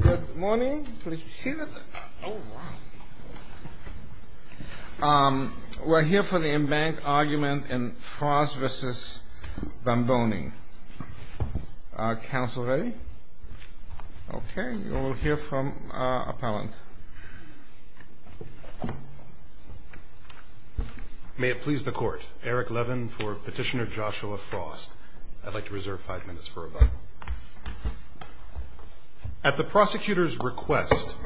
Good morning. We're here for the embankment argument in Frost v. Van Boening. Council ready? Okay. We'll hear from our appellant. May it please the Court. Eric Levin for Petitioner Joshua Frost. I'd like to reserve five minutes for rebuttal. At the prosecutor's request,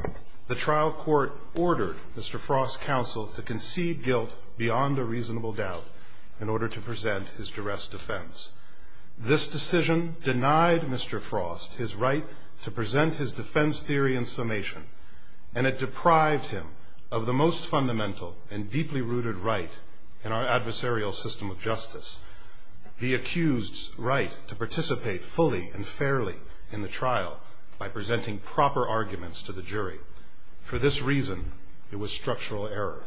the trial court ordered Mr. Frost's counsel to concede guilt beyond a reasonable doubt in order to present his duress defense. This decision denied Mr. Frost his right to present his defense theory in summation, and it deprived him of the most fundamental and deeply rooted right in our adversarial system of justice, the accused's right to participate fully and fairly in the trial by presenting proper arguments to the jury. For this reason, it was structural error.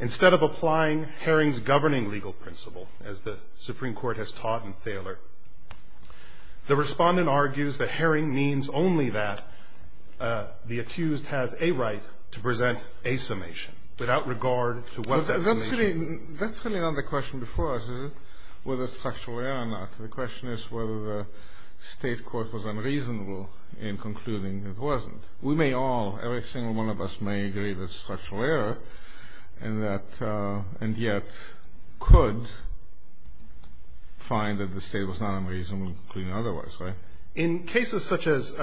Instead of applying Herring's governing legal principle, as the Supreme Court has taught in Thaler, the respondent argues that Herring means only that the accused has a right to present a summation without regard to what that summation is. That's really not the question before us, is it, whether it's structural error or not. The question is whether the state court was unreasonable in concluding it wasn't. We may all, every single one of us, may agree that it's structural error and yet could find that the state was not unreasonable in concluding otherwise, right? In cases such as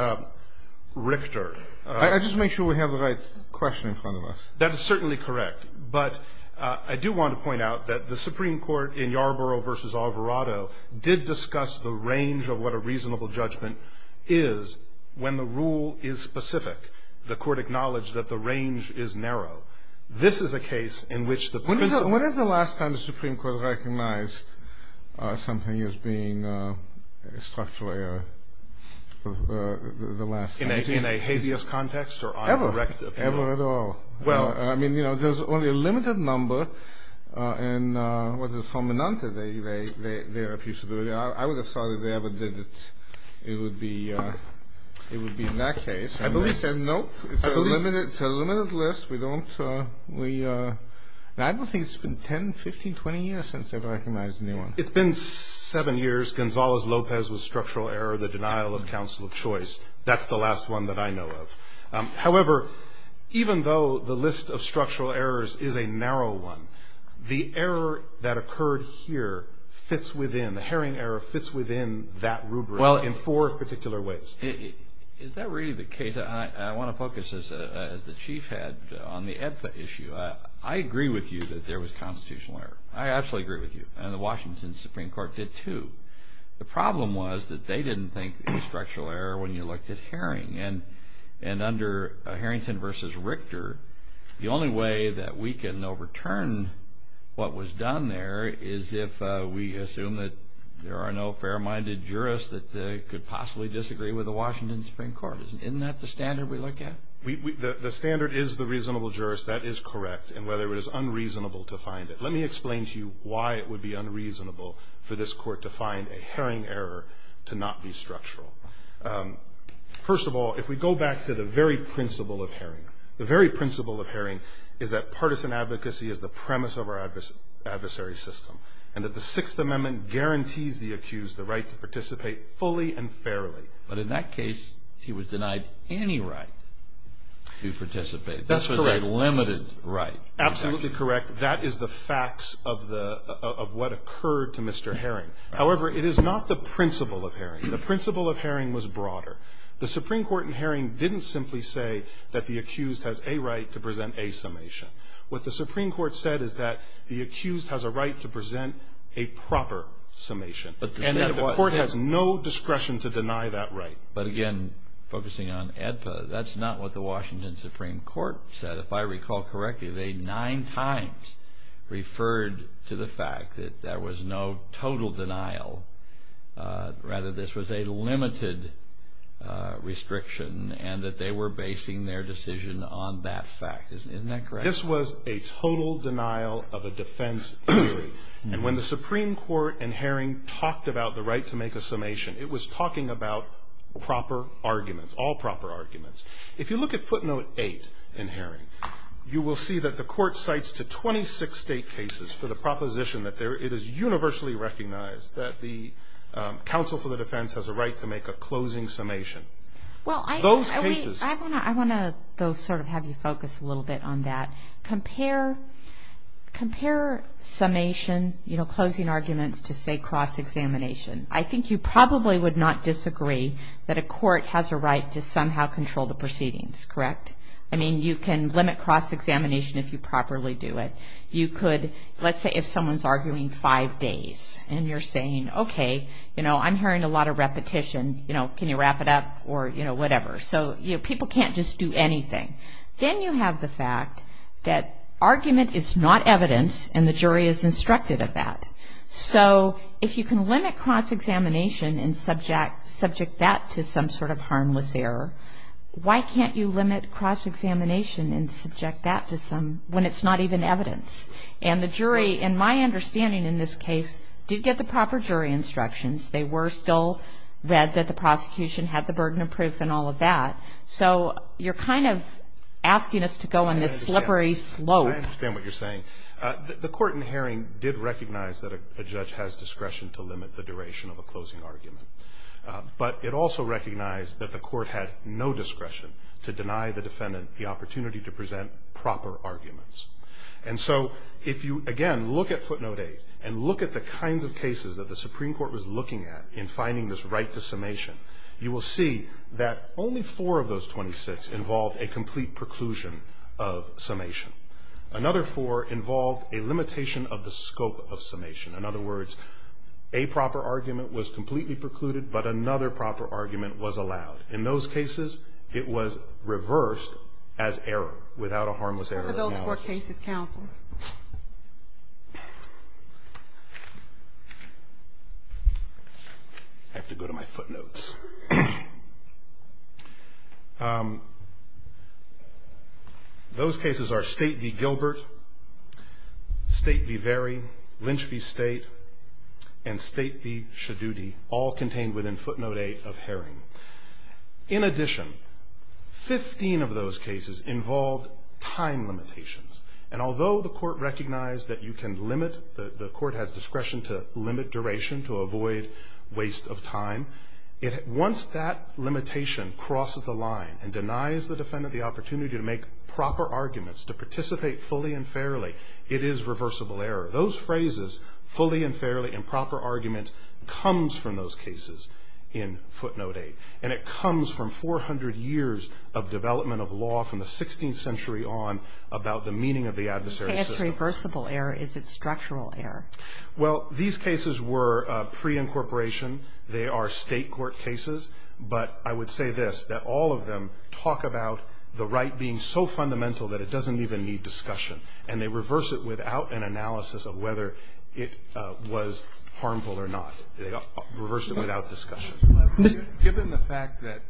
Richter... I just make sure we have the right question in front of us. That is certainly correct, but I do want to point out that the Supreme Court in Yarborough v. Alvarado did discuss the range of what a reasonable judgment is when the rule is specific. The court acknowledged that the range is narrow. This is a case in which the principle... When is the last time the Supreme Court recognized something as being structural error? In a habeas context or uncorrected? Never at all. Well, I mean, you know, there's only a limited number. And what is it? They're a few... I would have thought if they ever did it, it would be in that case. I believe they said no. It's a limited list. We don't... I don't think it's been 10, 15, 20 years since they've recognized anyone. It's been seven years. Gonzales-Lopez was structural error, the denial of counsel of choice. That's the last one that I know of. However, even though the list of structural errors is a narrow one, the error that occurred here fits within, the Herring error fits within that rubric in four particular ways. Is that really the case? I want to focus, as the Chief had, on the EBFA issue. I agree with you that there was constitutional error. I absolutely agree with you. And the Washington Supreme Court did, too. The problem was that they didn't think it was structural error when you looked at Herring. And under Herrington v. Richter, the only way that we can overturn what was done there is if we assume that there are no fair-minded jurists that could possibly disagree with the Washington Supreme Court. Isn't that the standard we look at? The standard is the reasonable jurist. That is correct. And whether it is unreasonable to find it. Let me explain to you why it would be unreasonable for this court to find a Herring error to not be structural. First of all, if we go back to the very principle of Herring, the very principle of Herring is that partisan advocacy is the premise of our adversary system and that the Sixth Amendment guarantees the accused the right to participate fully and fairly. But in that case, he was denied any right to participate. That's correct. That was a limited right. Absolutely correct. That is the facts of what occurred to Mr. Herring. However, it is not the principle of Herring. The principle of Herring was broader. The Supreme Court in Herring didn't simply say that the accused has a right to present a summation. What the Supreme Court said is that the accused has a right to present a proper summation. And the court has no discretion to deny that right. But again, focusing on ADPA, that's not what the Washington Supreme Court said. If I recall correctly, they nine times referred to the fact that there was no total denial. Rather, this was a limited restriction and that they were basing their decision on that fact. Isn't that correct? This was a total denial of a defense theory. And when the Supreme Court in Herring talked about the right to make a summation, it was talking about proper arguments, all proper arguments. If you look at footnote 8 in Herring, you will see that the court cites to 26 state cases for the proposition that it is universally recognized that the counsel for the defense has a right to make a closing summation. Those cases. I want to sort of have you focus a little bit on that. Compare summation, you know, closing arguments to, say, cross-examination. I think you probably would not disagree that a court has a right to somehow control the proceedings, correct? I mean, you can limit cross-examination if you properly do it. You could, let's say if someone's arguing five days and you're saying, okay, you know, I'm hearing a lot of repetition, you know, can you wrap it up or, you know, whatever. So, you know, people can't just do anything. Then you have the fact that argument is not evidence and the jury is instructed of that. So if you can limit cross-examination and subject that to some sort of harmless error, why can't you limit cross-examination and subject that to some, when it's not even evidence? And the jury, in my understanding in this case, did get the proper jury instructions. They were still read that the prosecution had the burden of proof and all of that. So you're kind of asking us to go on this slippery slope. I understand what you're saying. The court in Herring did recognize that a judge has discretion to limit the duration of a closing argument. But it also recognized that the court had no discretion to deny the defendant the opportunity to present proper arguments. And so if you, again, look at footnote 8 and look at the kinds of cases that the Supreme Court was looking at in finding this right to summation, you will see that only four of those 26 involved a complete preclusion of summation. Another four involved a limitation of the scope of summation. In other words, a proper argument was completely precluded, but another proper argument was allowed. In those cases, it was reversed as error, without a harmless error analysis. What are those four cases, counsel? I have to go to my footnotes. Those cases are State v. Gilbert, State v. Vary, Lynch v. State, and State v. Shadoody, all contained within footnote 8 of Herring. In addition, 15 of those cases involved time limitations. And although the court recognized that you can limit, the court has discretion to limit duration to avoid waste of time, once that limitation crosses the line and denies the defendant the opportunity to make proper arguments, to participate fully and fairly, it is reversible error. Those phrases, fully and fairly and proper argument, comes from those cases in footnote 8. And it comes from 400 years of development of law from the 16th century on about the meaning of the adversary system. If it's reversible error, is it structural error? Well, these cases were preincorporation. They are State court cases. But I would say this, that all of them talk about the right being so fundamental that it doesn't even need discussion. And they reverse it without an analysis of whether it was harmful or not. They reversed it without discussion. Given the fact that,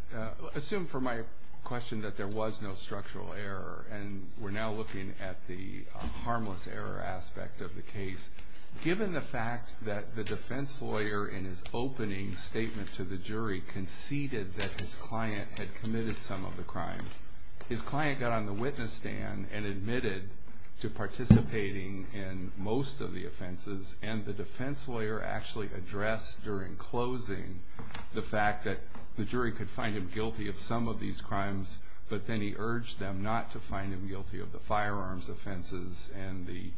assume for my question that there was no structural error, and we're now looking at the harmless error aspect of the case, given the fact that the defense lawyer in his opening statement to the jury conceded that his client had committed some of the crimes, his client got on the witness stand and admitted to participating in most of the offenses, and the defense lawyer actually addressed during closing the fact that the jury could find him guilty of some of these crimes, but then he urged them not to find him guilty of the firearms offenses and the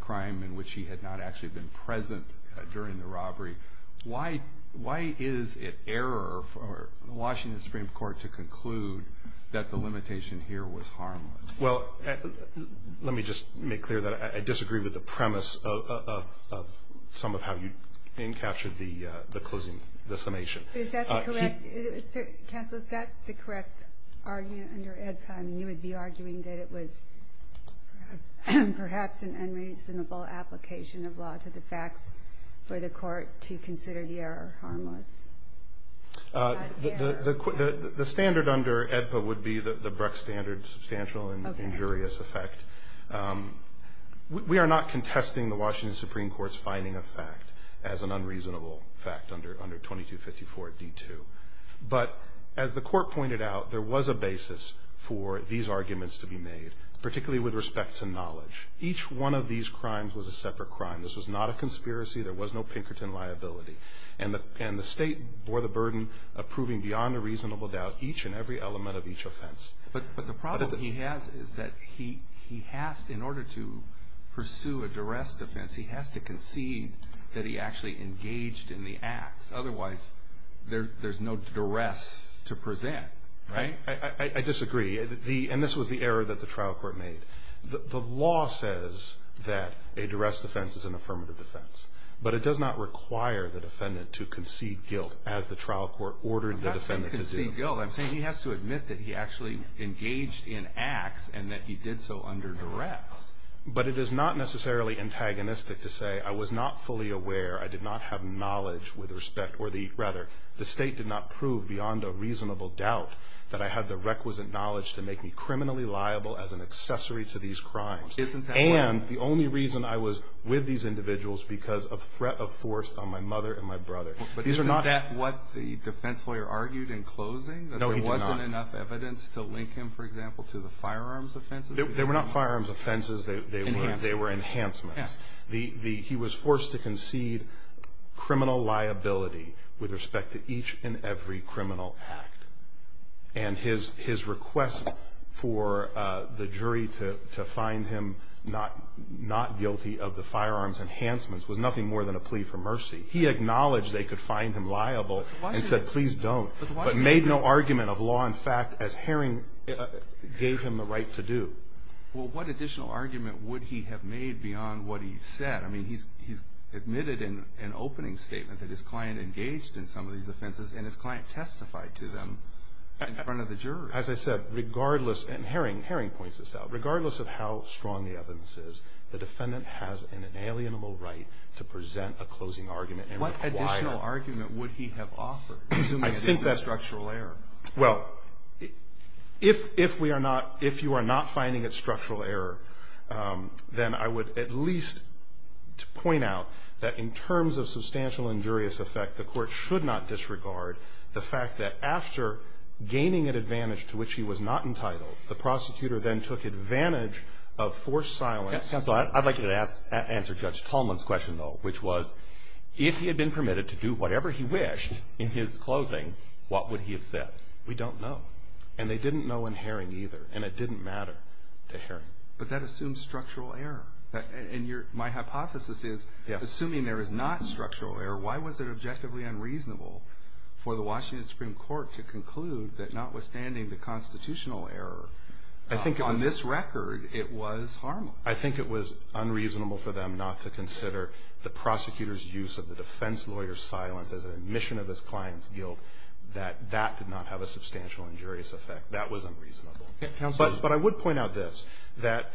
crime in which he had not actually been present during the robbery, why is it error for the Washington Supreme Court to conclude that the limitation here was harmless? Well, let me just make clear that I disagree with the premise of some of how you encaptured the closing, the summation. Is that correct? Counsel, is that the correct argument under AEDPA? You would be arguing that it was perhaps an unreasonable application of law to the facts for the court to consider the error harmless? The standard under AEDPA would be the Bruck standard, substantial and injurious effect. We are not contesting the Washington Supreme Court's finding of fact as an unreasonable fact under 2254D2, but as the court pointed out, there was a basis for these arguments to be made, particularly with respect to knowledge. Each one of these crimes was a separate crime. This was not a conspiracy. There was no Pinkerton liability, and the state bore the burden of proving beyond a reasonable doubt each and every element of each offense. But the problem he has is that he has, in order to pursue a duress defense, he has to concede that he actually engaged in the acts. Otherwise, there's no duress to present, right? I disagree, and this was the error that the trial court made. The law says that a duress defense is an affirmative defense, but it does not require the defendant to concede guilt as the trial court ordered the defendant to do. I'm not saying concede guilt. I'm saying he has to admit that he actually engaged in acts and that he did so under duress. But it is not necessarily antagonistic to say I was not fully aware, I did not have knowledge with respect, or rather the state did not prove beyond a reasonable doubt that I had the requisite knowledge to make me criminally liable as an accessory to these crimes. And the only reason I was with these individuals because of threat of force on my mother and my brother. But isn't that what the defense lawyer argued in closing? No, he did not. That there wasn't enough evidence to link him, for example, to the firearms offenses? They were not firearms offenses. Enhancements. They were enhancements. Yes. He was forced to concede criminal liability with respect to each and every criminal act. And his request for the jury to find him not guilty of the firearms enhancements was nothing more than a plea for mercy. He acknowledged they could find him liable and said please don't, but made no argument of law and fact as Herring gave him the right to do. Well, what additional argument would he have made beyond what he said? I mean, he's admitted in an opening statement that his client engaged in some of these offenses and his client testified to them in front of the jurors. As I said, regardless, and Herring points this out, regardless of how strong the evidence is, the defendant has an inalienable right to present a closing argument and require. What additional argument would he have offered, assuming it is a structural error? Well, if we are not, if you are not finding it structural error, then I would at least point out that in terms of substantial injurious effect, the Court should not disregard the fact that after gaining an advantage to which he was not entitled, the prosecutor then took advantage of forced silence. Counsel, I'd like you to answer Judge Tolman's question, though, which was if he had been permitted to do whatever he wished in his closing, what would he have said? We don't know. And they didn't know in Herring either, and it didn't matter to Herring. But that assumes structural error. And my hypothesis is, assuming there is not structural error, why was it objectively unreasonable for the Washington Supreme Court to conclude that notwithstanding the constitutional error, on this record it was harmless? I think it was unreasonable for them not to consider the prosecutor's use of the defense lawyer's silence as an admission of his client's guilt, that that did not have a substantial injurious effect. That was unreasonable. But I would point out this, that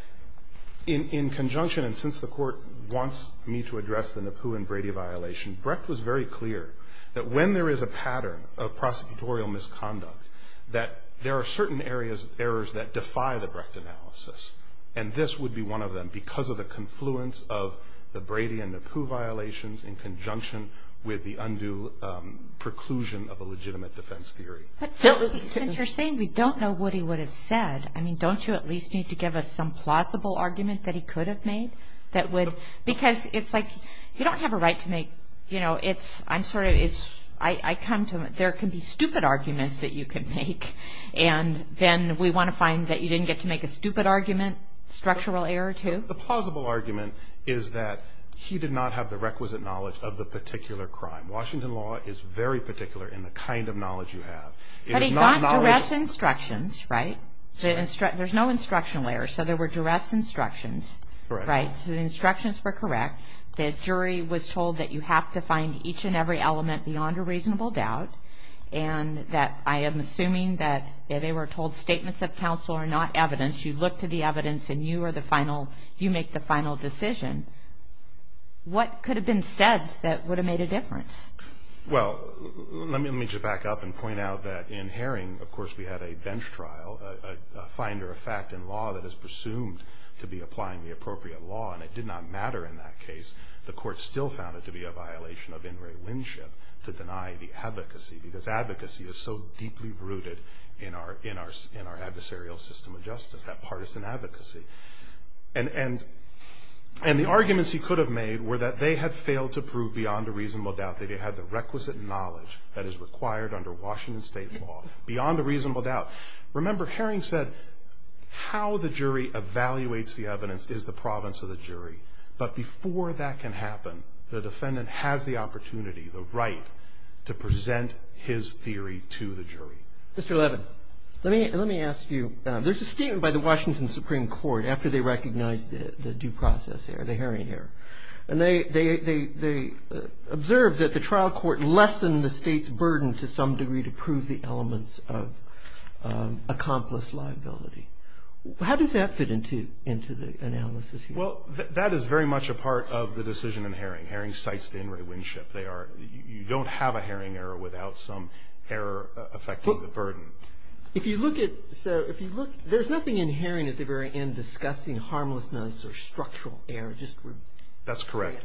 in conjunction, and since the Court wants me to address the Napoo and Brady violation, Brecht was very clear that when there is a pattern of prosecutorial misconduct, that there are certain areas of errors that defy the Brecht analysis. And this would be one of them, because of the confluence of the Brady and Napoo violations in conjunction with the undue preclusion of a legitimate defense theory. But since you're saying we don't know what he would have said, I mean, don't you at least need to give us some plausible argument that he could have made that would, because it's like, you don't have a right to make, you know, it's, I'm sorry, it's, I come to, there can be stupid arguments that you can make, and then we want to find that you didn't get to make a stupid argument, structural error, too? The plausible argument is that he did not have the requisite knowledge of the particular crime. Washington law is very particular in the kind of knowledge you have. But he got duress instructions, right? There's no instructional error, so there were duress instructions. Right. So the instructions were correct. The jury was told that you have to find each and every element beyond a reasonable doubt, and that I am assuming that they were told statements of counsel are not evidence. You look to the evidence, and you are the final, you make the final decision. What could have been said that would have made a difference? Well, let me just back up and point out that in Herring, of course, we had a bench trial, a finder of fact in law that is presumed to be applying the appropriate law, and it did not matter in that case. The court still found it to be a violation of in re winship to deny the advocacy, because advocacy is so deeply rooted in our adversarial system of justice, that partisan advocacy. And the arguments he could have made were that they had failed to prove beyond a reasonable doubt that he had the requisite knowledge that is required under Washington state law, beyond a reasonable doubt. Remember, Herring said how the jury evaluates the evidence is the province of the jury. But before that can happen, the defendant has the opportunity, the right to present his theory to the jury. Mr. Levin, let me ask you. There's a statement by the Washington Supreme Court after they recognized the due process error, the Herring error. And they observed that the trial court lessened the state's burden to some degree to prove the elements of accomplice liability. How does that fit into the analysis here? Well, that is very much a part of the decision in Herring. Herring cites the in re winship. You don't have a Herring error without some error affecting the burden. If you look at, so if you look, there's nothing in Herring at the very end discussing harmlessness or structural error. That's correct.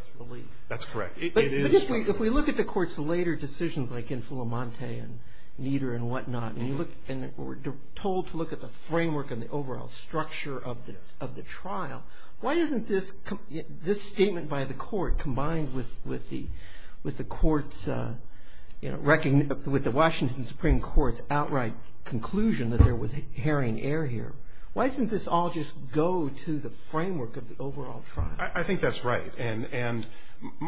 That's correct. But if we look at the court's later decisions, like in Fullamonte and Nieder and whatnot, and we're told to look at the framework and the overall structure of the trial, why isn't this statement by the court combined with the court's, you know, with the Washington Supreme Court's outright conclusion that there was Herring error here, why doesn't this all just go to the framework of the overall trial? I think that's right. And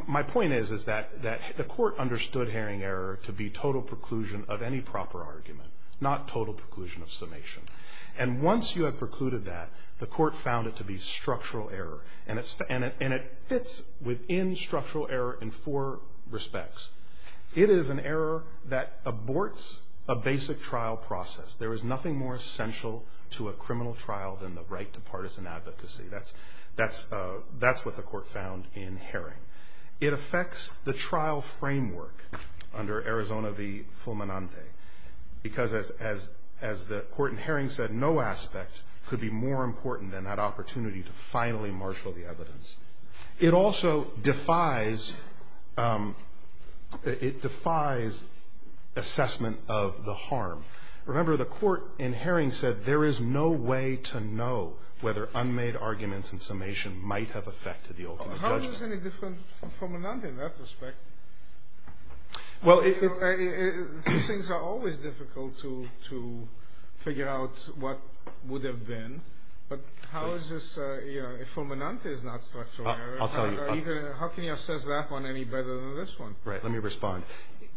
my point is that the court understood Herring error to be total preclusion of any proper argument, not total preclusion of summation. And once you have precluded that, the court found it to be structural error. And it fits within structural error in four respects. It is an error that aborts a basic trial process. There is nothing more essential to a criminal trial than the right to partisan advocacy. That's what the court found in Herring. It affects the trial framework under Arizona v. Fullamonte, because as the court in Herring said, no aspect could be more important than that opportunity to finally marshal the evidence. It also defies assessment of the harm. Remember, the court in Herring said there is no way to know whether unmade arguments in summation might have affected the ultimate judgment. How is this any different from Fullamonte in that respect? These things are always difficult to figure out what would have been, but how is this, if Fullamonte is not structural error, how can you assess that one any better than this one? Right, let me respond.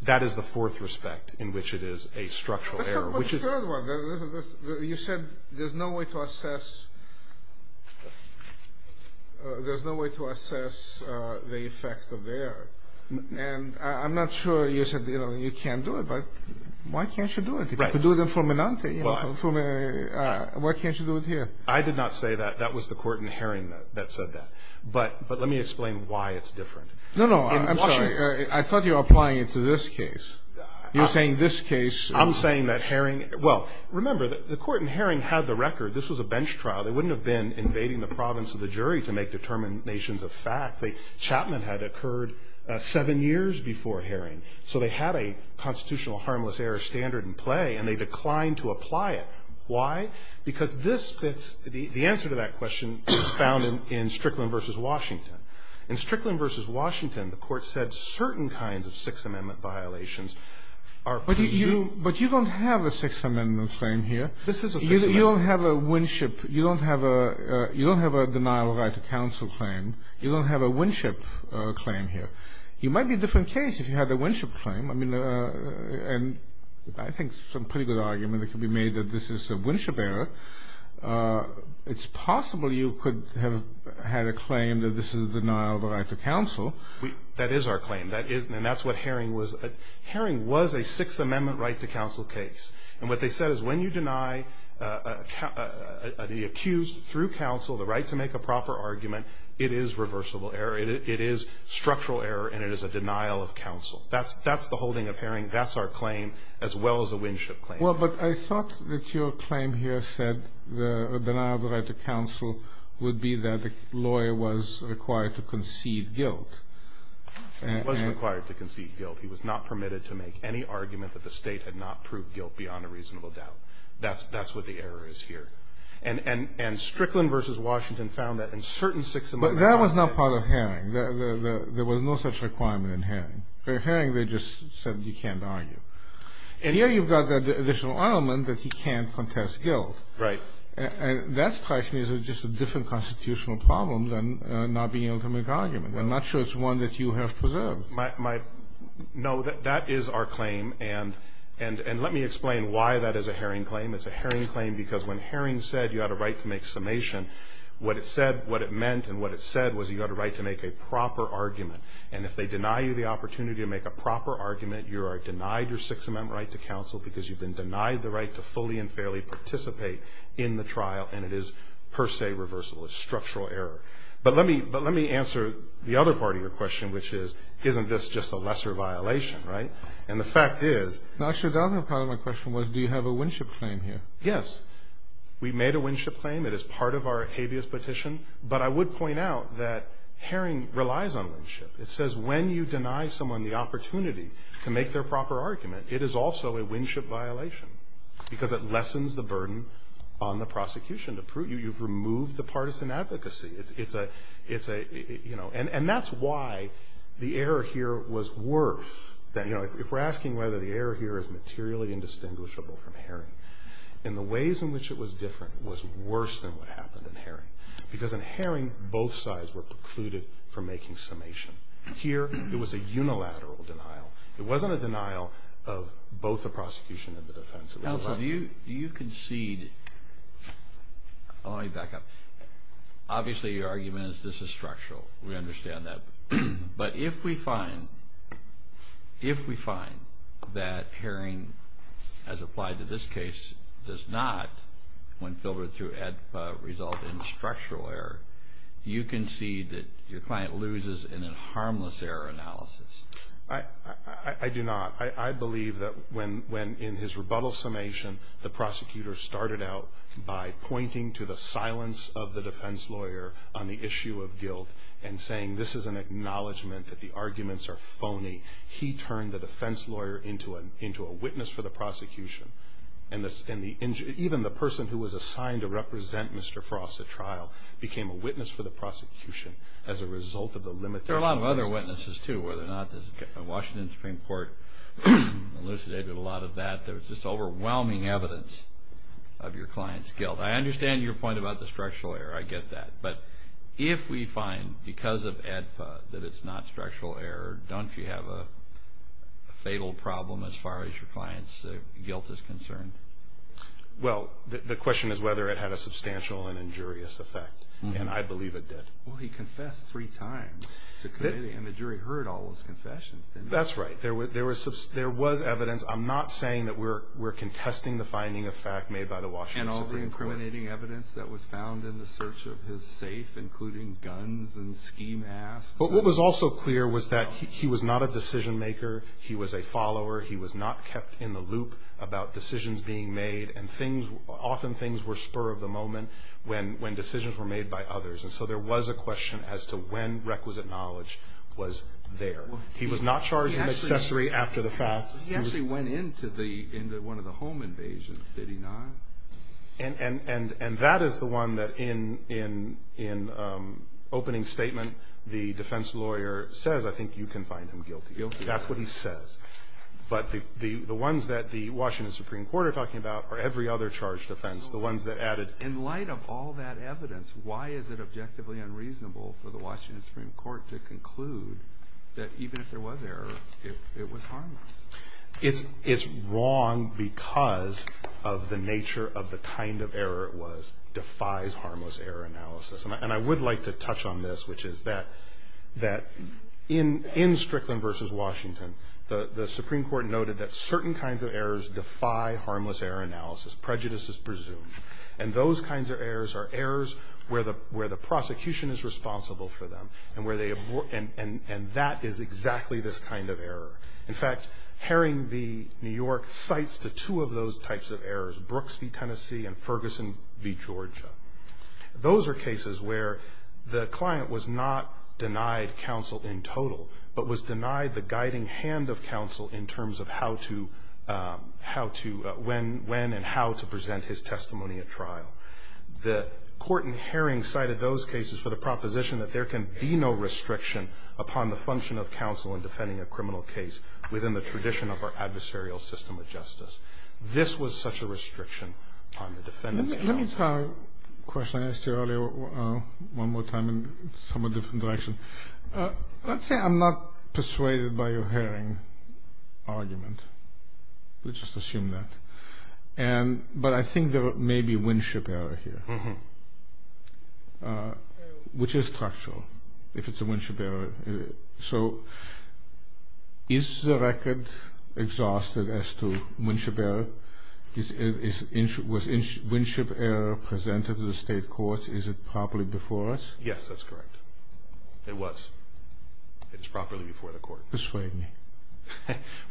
That is the fourth respect in which it is a structural error. You said there is no way to assess the effect of the error. And I'm not sure you said you can't do it, but why can't you do it? You could do it in Fullamonte. Why can't you do it here? I did not say that. That was the court in Herring that said that. But let me explain why it's different. No, no, I'm sorry. I thought you were applying it to this case. You're saying this case. I'm saying that Herring – well, remember, the court in Herring had the record. This was a bench trial. They wouldn't have been invading the province of the jury to make determinations of fact. Chapman had occurred seven years before Herring. So they had a constitutional harmless error standard in play, and they declined to apply it. Why? Because this fits – the answer to that question is found in Strickland v. Washington. In Strickland v. Washington, the court said certain kinds of Sixth Amendment violations are presumed But you don't have a Sixth Amendment claim here. This is a Sixth Amendment claim. You don't have a Winship – you don't have a – you don't have a denial of right to counsel claim. You don't have a Winship claim here. It might be a different case if you had a Winship claim. I mean, and I think some pretty good argument could be made that this is a Winship error. It's possible you could have had a claim that this is a denial of the right to counsel. That is our claim. That is – and that's what Herring was – Herring was a Sixth Amendment right to counsel case. And what they said is when you deny the accused through counsel the right to make a proper argument, it is reversible error. It is structural error and it is a denial of counsel. That's the holding of Herring. That's our claim as well as a Winship claim. Well, but I thought that your claim here said the denial of the right to counsel would be that the lawyer was required to concede guilt. He was required to concede guilt. He was not permitted to make any argument that the State had not proved guilt beyond a reasonable doubt. That's what the error is here. And Strickland v. Washington found that in certain Sixth Amendment – But that was not part of Herring. There was no such requirement in Herring. In Herring they just said you can't argue. And here you've got the additional element that he can't contest guilt. Right. And that strikes me as just a different constitutional problem than not being able to make an argument. I'm not sure it's one that you have preserved. No, that is our claim. And let me explain why that is a Herring claim. It's a Herring claim because when Herring said you had a right to make summation, what it said, what it meant, and what it said was you had a right to make a proper argument. And if they deny you the opportunity to make a proper argument, you are denied your Sixth Amendment right to counsel because you've been denied the right to fully and fairly participate in the trial, and it is per se reversible. It's structural error. But let me answer the other part of your question, which is isn't this just a lesser violation, right? And the fact is the actual government part of my question was do you have a Winship claim here? Yes. We made a Winship claim. It is part of our habeas petition. But I would point out that Herring relies on Winship. It says when you deny someone the opportunity to make their proper argument, it is also a Winship violation because it lessens the burden on the prosecution. You've removed the partisan advocacy. It's a, you know, and that's why the error here was worse than, you know, if we're asking whether the error here is materially indistinguishable from Herring and the ways in which it was different was worse than what happened in Herring because in Herring both sides were precluded from making summation. Here it was a unilateral denial. It wasn't a denial of both the prosecution and the defense. Counsel, do you concede, let me back up. Obviously your argument is this is structural. We understand that. But if we find, if we find that Herring, as applied to this case, does not when filtered through ADPA result in structural error, you concede that your client loses in a harmless error analysis. I do not. I believe that when in his rebuttal summation the prosecutor started out by pointing to the silence of the defense lawyer on the issue of guilt and saying this is an acknowledgment that the arguments are phony, he turned the defense lawyer into a witness for the prosecution. And even the person who was assigned to represent Mr. Frost at trial became a witness for the prosecution as a result of the limitations. There are a lot of other witnesses, too, whether or not the Washington Supreme Court elucidated a lot of that. There was just overwhelming evidence of your client's guilt. I understand your point about the structural error. I get that. But if we find because of ADPA that it's not structural error, don't you have a fatal problem as far as your client's guilt is concerned? Well, the question is whether it had a substantial and injurious effect, and I believe it did. Well, he confessed three times to committing, and the jury heard all those confessions. That's right. There was evidence. I'm not saying that we're contesting the finding of fact made by the Washington Supreme Court. And all the incriminating evidence that was found in the search of his safe, including guns and ski masks. But what was also clear was that he was not a decision maker. He was a follower. He was not kept in the loop about decisions being made, and often things were spur of the moment when decisions were made by others. And so there was a question as to when requisite knowledge was there. He was not charged in accessory after the fact. He actually went into one of the home invasions, did he not? And that is the one that in opening statement the defense lawyer says, I think you can find him guilty. Guilty. That's what he says. But the ones that the Washington Supreme Court are talking about are every other charged offense. In light of all that evidence, why is it objectively unreasonable for the Washington Supreme Court to conclude that even if there was error, it was harmless? It's wrong because of the nature of the kind of error it was. It defies harmless error analysis. And I would like to touch on this, which is that in Strickland v. Washington, the Supreme Court noted that certain kinds of errors defy harmless error analysis. Prejudice is presumed. And those kinds of errors are errors where the prosecution is responsible for them, and that is exactly this kind of error. In fact, Herring v. New York cites the two of those types of errors, Brooks v. Tennessee and Ferguson v. Georgia. Those are cases where the client was not denied counsel in total, but was denied the guiding hand of counsel in terms of how to, when and how to present his testimony at trial. The court in Herring cited those cases for the proposition that there can be no restriction upon the function of counsel in defending a criminal case within the tradition of our adversarial system of justice. This was such a restriction on the defendant's counsel. Let me try a question I asked you earlier one more time in a somewhat different direction. Let's say I'm not persuaded by your Herring argument. We'll just assume that. But I think there may be a Winship error here, which is structural if it's a Winship error. So is the record exhausted as to Winship error? Was Winship error presented to the state courts? Is it properly before us? Yes, that's correct. It was. It is properly before the court. Persuade me.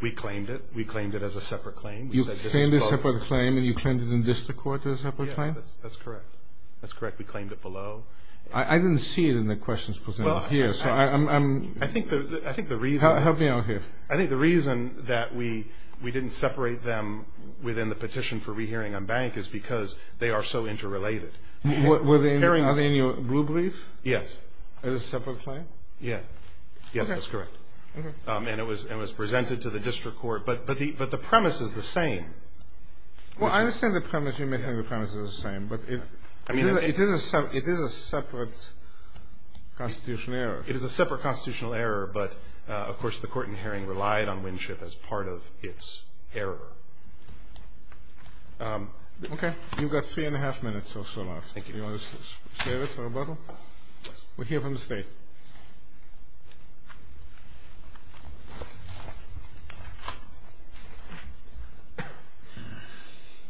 We claimed it. We claimed it as a separate claim. You claimed it as a separate claim, and you claimed it in district court as a separate claim? Yes, that's correct. That's correct. We claimed it below. I didn't see it in the questions presented here. Help me out here. I think the reason that we didn't separate them within the petition for rehearing on bank is because they are so interrelated. Are they in your rule brief? Yes. As a separate claim? Yes. Yes, that's correct. Okay. And it was presented to the district court. But the premise is the same. Well, I understand the premise. You may think the premise is the same. But it is a separate constitutional error. It is a separate constitutional error. But, of course, the court in Herring relied on Winship as part of its error. Okay. You've got three and a half minutes or so left. Thank you. Do you want to save it for rebuttal? Yes. We'll hear from the State.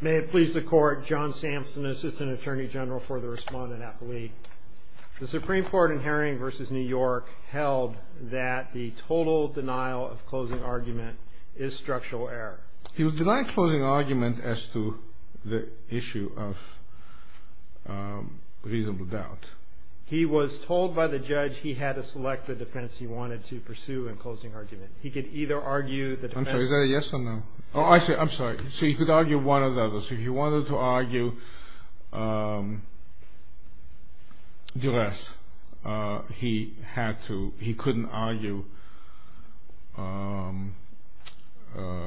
May it please the Court, John Sampson, Assistant Attorney General for the Respondent-Appellee. The Supreme Court in Herring v. New York held that the total denial of closing argument is structural error. He was denying closing argument as to the issue of reasonable doubt. He was told by the judge he had to select the defense he wanted to pursue in closing argument. He could either argue the defense. I'm sorry. Is that a yes or no? Oh, I see. I'm sorry. So he could argue one or the other. So if he wanted to argue duress, he couldn't argue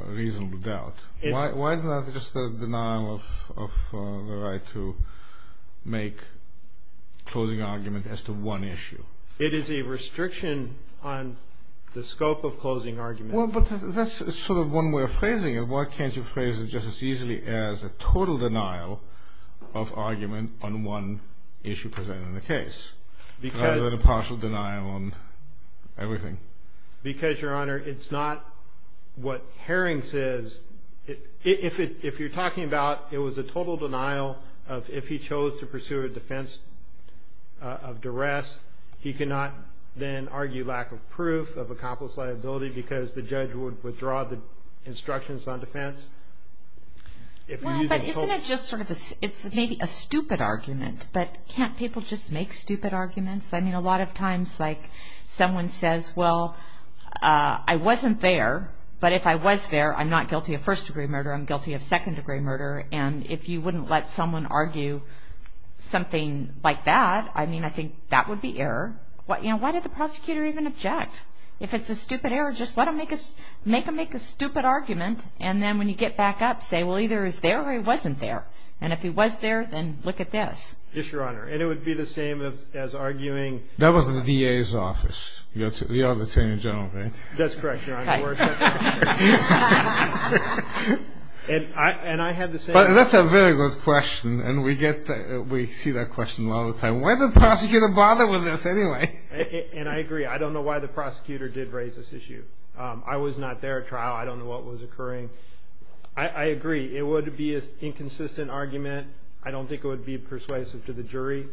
reasonable doubt. Why is that just a denial of the right to make closing argument as to one issue? It is a restriction on the scope of closing argument. Well, but that's sort of one way of phrasing it. Why can't you phrase it just as easily as a total denial of argument on one issue presented in the case rather than a partial denial on everything? Because, Your Honor, it's not what Herring says. If you're talking about it was a total denial of if he chose to pursue a defense of duress, he cannot then argue lack of proof of accomplice liability because the judge would withdraw the instructions on defense. Well, but isn't it just sort of a stupid argument? But can't people just make stupid arguments? I mean, a lot of times, like, someone says, well, I wasn't there, but if I was there, I'm not guilty of first-degree murder. I'm guilty of second-degree murder. And if you wouldn't let someone argue something like that, I mean, I think that would be error. You know, why did the prosecutor even object? If it's a stupid error, just let him make a stupid argument. And then when you get back up, say, well, either he was there or he wasn't there. And if he was there, then look at this. Yes, Your Honor. And it would be the same as arguing. That was the DA's office. You're the Attorney General, right? That's correct, Your Honor. But that's a very good question. And we see that question a lot of the time. Why did the prosecutor bother with this anyway? And I agree. I don't know why the prosecutor did raise this issue. I was not there at trial. I don't know what was occurring. I agree. It would be an inconsistent argument. I don't think it would be persuasive to the jury.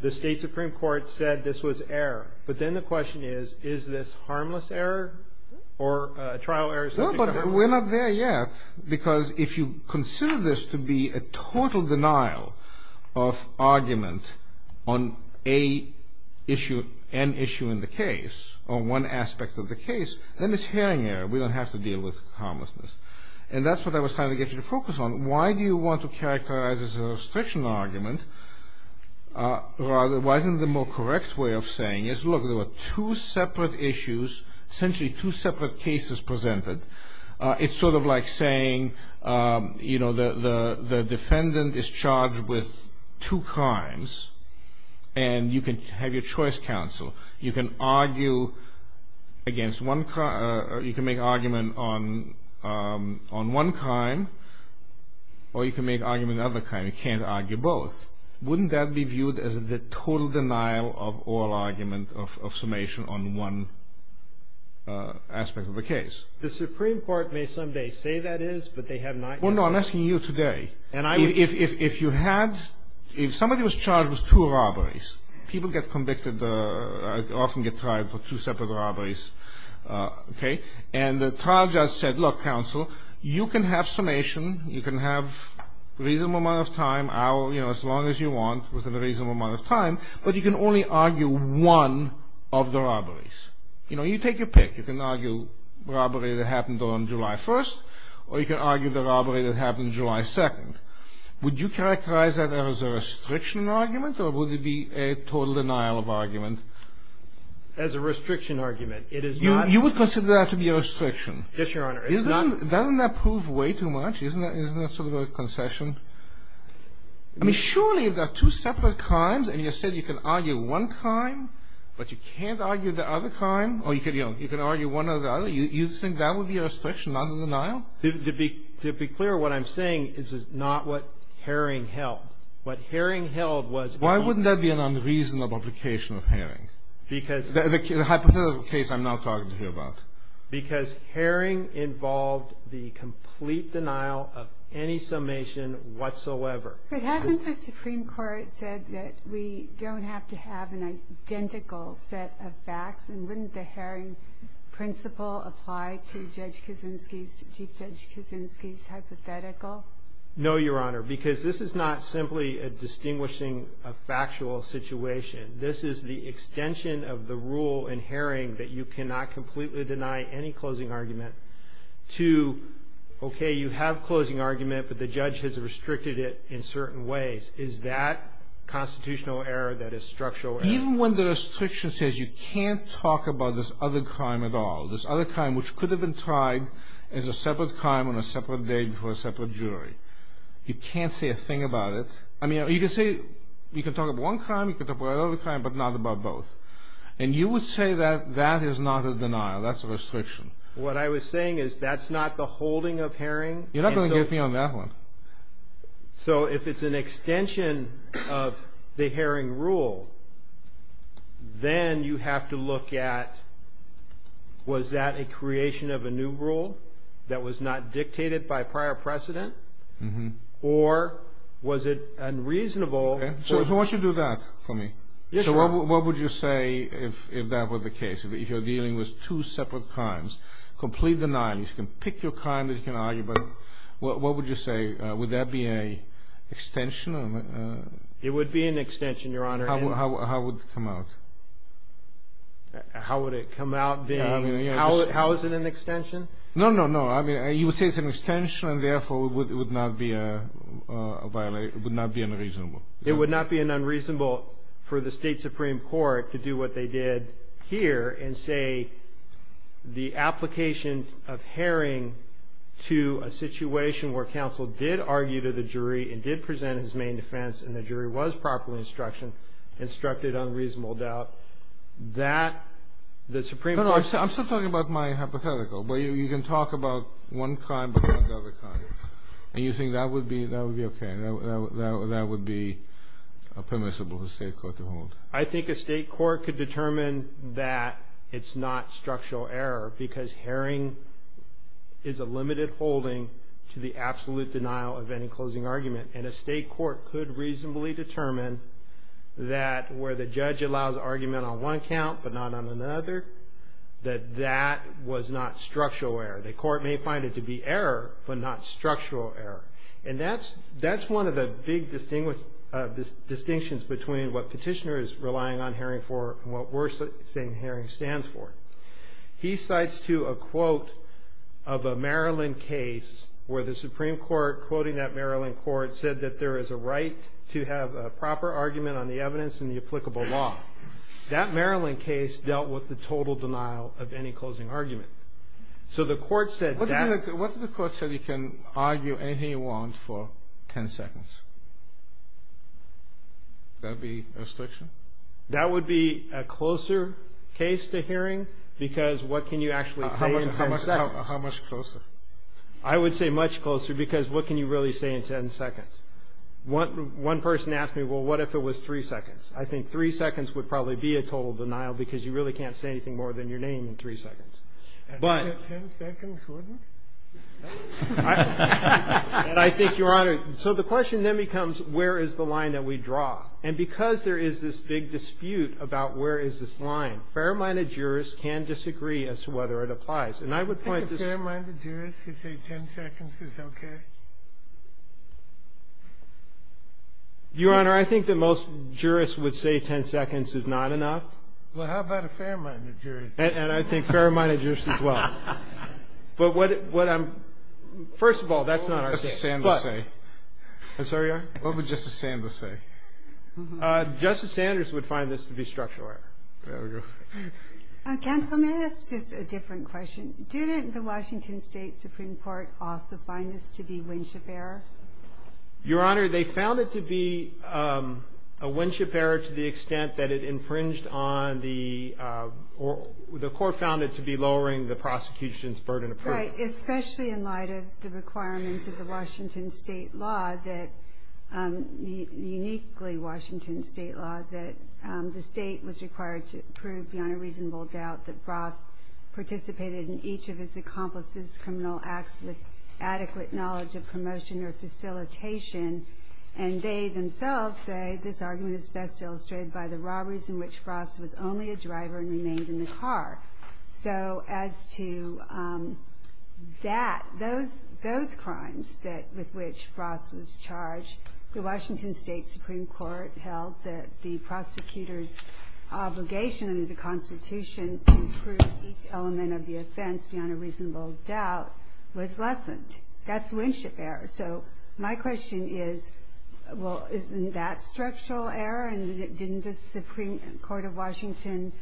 The State Supreme Court said this was error. But then the question is, is this harmless error or trial error? No, but we're not there yet. Because if you consider this to be a total denial of argument on an issue in the case, on one aspect of the case, then it's hearing error. We don't have to deal with harmlessness. And that's what I was trying to get you to focus on. Why do you want to characterize this as a restriction argument? Rather, why isn't the more correct way of saying is, look, there were two separate issues, essentially two separate cases presented. It's sort of like saying, you know, the defendant is charged with two crimes, and you can have your choice counsel. You can argue against one crime or you can make an argument on one crime, or you can make an argument on the other crime. You can't argue both. Wouldn't that be viewed as the total denial of all argument of summation on one aspect of the case? The Supreme Court may someday say that is, but they have not yet. Well, no, I'm asking you today. If you had, if somebody was charged with two robberies, people get convicted, often get tried for two separate robberies. Okay? And the trial judge said, look, counsel, you can have summation. You can have reasonable amount of time, hour, you know, as long as you want, within a reasonable amount of time, but you can only argue one of the robberies. You know, you take your pick. You can argue robbery that happened on July 1st, or you can argue the robbery that happened July 2nd. Would you characterize that as a restriction argument, or would it be a total denial of argument? As a restriction argument, it is not. You would consider that to be a restriction? Yes, Your Honor. Doesn't that prove way too much? Isn't that sort of a concession? I mean, surely if there are two separate crimes, and you said you can argue one crime, but you can't argue the other crime, or you can argue one or the other, you think that would be a restriction, not a denial? To be clear, what I'm saying is not what Herring held. What Herring held was an argument. Why wouldn't that be an unreasonable application of Herring, the hypothetical case I'm now talking to you about? Because Herring involved the complete denial of any summation whatsoever. But hasn't the Supreme Court said that we don't have to have an identical set of facts, and wouldn't the Herring principle apply to Judge Kuczynski's, Chief Judge Kuczynski's hypothetical? No, Your Honor, because this is not simply a distinguishing factual situation. This is the extension of the rule in Herring that you cannot completely deny any closing argument to, okay, you have a closing argument, but the judge has restricted it in certain ways. Is that constitutional error that is structural error? Even when the restriction says you can't talk about this other crime at all, this other crime which could have been tried as a separate crime on a separate day before a separate jury, you can't say a thing about it. I mean, you can say you can talk about one crime, you can talk about another crime, but not about both. And you would say that that is not a denial, that's a restriction. What I was saying is that's not the holding of Herring. You're not going to get me on that one. So if it's an extension of the Herring rule, then you have to look at was that a creation of a new rule that was not dictated by prior precedent, or was it unreasonable? So why don't you do that for me? Yes, Your Honor. So what would you say if that were the case? If you're dealing with two separate crimes, complete denial, you can pick your crime that you can argue, but what would you say? Would that be an extension? It would be an extension, Your Honor. How would it come out? How would it come out being? How is it an extension? No, no, no. I mean, you would say it's an extension, and therefore it would not be a violation, it would not be unreasonable. It would not be unreasonable for the State Supreme Court to do what they did here and say the application of Herring to a situation where counsel did argue to the jury and did present his main defense and the jury was properly instructed on reasonable doubt, that the Supreme Court ---- No, no, I'm still talking about my hypothetical, but you can talk about one crime but not the other crime, and you think that would be okay, that would be permissible for the State court to hold? I think a State court could determine that it's not structural error because Herring is a limited holding to the absolute denial of any closing argument, and a State court could reasonably determine that where the judge allows argument on one count but not on another, that that was not structural error. The court may find it to be error but not structural error. And that's one of the big distinctions between what petitioners relying on Herring for and what we're saying Herring stands for. He cites, too, a quote of a Maryland case where the Supreme Court, quoting that Maryland court, said that there is a right to have a proper argument on the evidence and the applicable law. That Maryland case dealt with the total denial of any closing argument. So the court said that ---- What if the court said you can argue anything you want for ten seconds? Would that be a restriction? That would be a closer case to Herring because what can you actually say in ten seconds? How much closer? I would say much closer because what can you really say in ten seconds? One person asked me, well, what if it was three seconds? I think three seconds would probably be a total denial because you really can't say anything more than your name in three seconds. But ---- Ten seconds wouldn't? I think, Your Honor, so the question then becomes where is the line that we draw? And because there is this big dispute about where is this line, fair-minded jurists can disagree as to whether it applies. And I would point to ---- I think a fair-minded jurist could say ten seconds is okay. Your Honor, I think that most jurists would say ten seconds is not enough. Well, how about a fair-minded jurist? And I think fair-minded jurists as well. But what I'm ---- first of all, that's not our case. What would Justice Sanders say? I'm sorry, Your Honor? What would Justice Sanders say? Justice Sanders would find this to be structural error. There we go. Counsel, may I ask just a different question? Didn't the Washington State Supreme Court also find this to be Winship error? Your Honor, they found it to be a Winship error to the extent that it infringed on the ---- the Court found it to be lowering the prosecution's burden of proof. Right. Especially in light of the requirements of the Washington State law that uniquely Washington State law that the State was required to prove beyond a reasonable doubt that Frost participated in each of his accomplices' criminal acts with adequate knowledge of promotion or facilitation. And they themselves say this argument is best illustrated by the robberies in which Frost was only a driver and remained in the car. So as to that, those crimes that ---- with which Frost was charged, the Washington State Supreme Court held that the prosecutor's obligation under the Constitution to prove each element of the offense beyond a reasonable doubt was lessened. That's Winship error. So my question is, well, isn't that structural error? And didn't the Supreme Court of Washington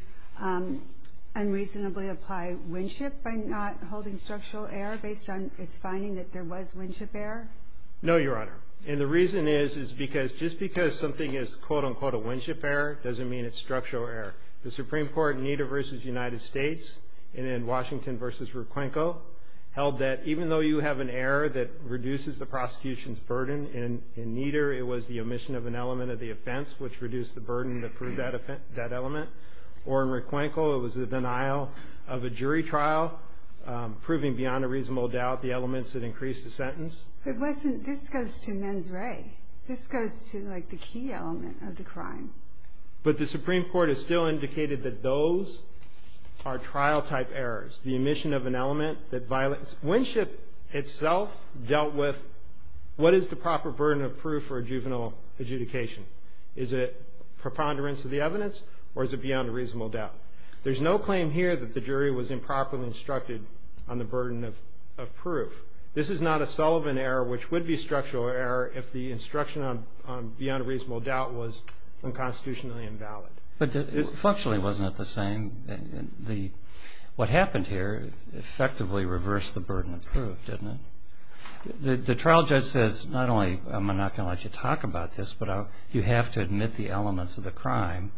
unreasonably apply Winship by not holding structural error based on its finding that there was Winship error? No, Your Honor. And the reason is, is because just because something is quote-unquote a Winship error doesn't mean it's structural error. The Supreme Court in Nieder v. United States and in Washington v. Requenco held that even though you have an error that reduces the prosecution's burden in Nieder, it was the omission of an element of the offense which reduced the burden to prove that element. Or in Requenco, it was the denial of a jury trial proving beyond a reasonable doubt the elements that increased the sentence. But this goes to mens re. This goes to, like, the key element of the crime. But the Supreme Court has still indicated that those are trial-type errors, the omission of an element that violates. Winship itself dealt with what is the proper burden of proof for a juvenile adjudication. Is it preponderance of the evidence, or is it beyond a reasonable doubt? There's no claim here that the jury was improperly instructed on the burden of proof. This is not a Sullivan error, which would be a structural error if the instruction on beyond a reasonable doubt was unconstitutionally invalid. But functionally, wasn't it the same? What happened here effectively reversed the burden of proof, didn't it? The trial judge says, not only am I not going to let you talk about this, but you have to admit the elements of the crime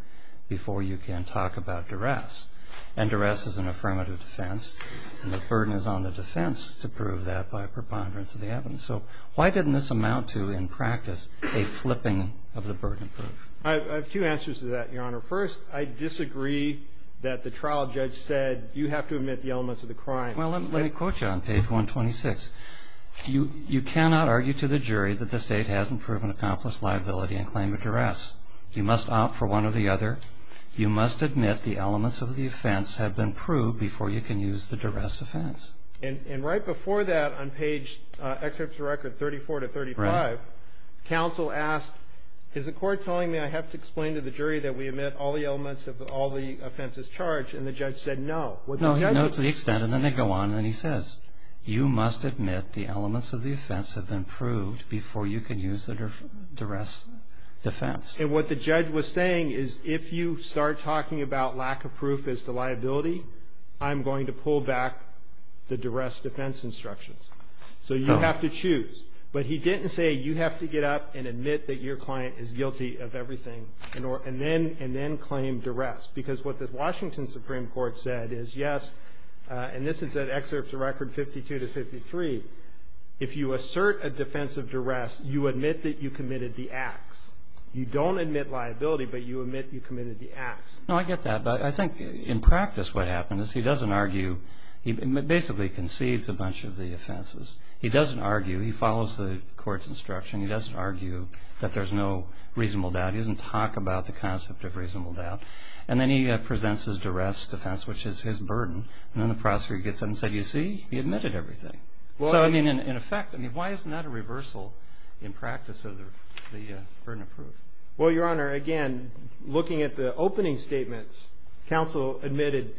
before you can talk about duress. And duress is an affirmative defense, and the burden is on the defense to prove that by preponderance of the evidence. So why didn't this amount to, in practice, a flipping of the burden of proof? I have two answers to that, Your Honor. First, I disagree that the trial judge said, you have to admit the elements of the crime. Well, let me quote you on page 126. You cannot argue to the jury that the State hasn't proven accomplished liability in claim of duress. You must opt for one or the other. You must admit the elements of the offense have been proved before you can use the duress offense. And right before that, on page, excerpt to record 34 to 35, counsel asked, is the court telling me I have to explain to the jury that we admit all the elements of all the offenses charged? And the judge said no. No, he said no to the extent, and then they go on, and then he says, you must admit the elements of the offense have been proved before you can use the duress defense. And what the judge was saying is, if you start talking about lack of proof as the liability, I'm going to pull back the duress defense instructions. So you have to choose. But he didn't say, you have to get up and admit that your client is guilty of everything, and then claim duress. Because what the Washington Supreme Court said is, yes, and this is at excerpts to record 52 to 53, if you assert a defense of duress, you admit that you committed the acts. You don't admit liability, but you admit you committed the acts. No, I get that. But I think in practice what happens is he doesn't argue. He basically concedes a bunch of the offenses. He doesn't argue. He follows the court's instruction. He doesn't argue that there's no reasonable doubt. He doesn't talk about the concept of reasonable doubt. And then he presents his duress defense, which is his burden. And then the prosecutor gets up and says, you see, he admitted everything. So, I mean, in effect, I mean, why isn't that a reversal in practice of the burden of proof? Well, Your Honor, again, looking at the opening statements, counsel admitted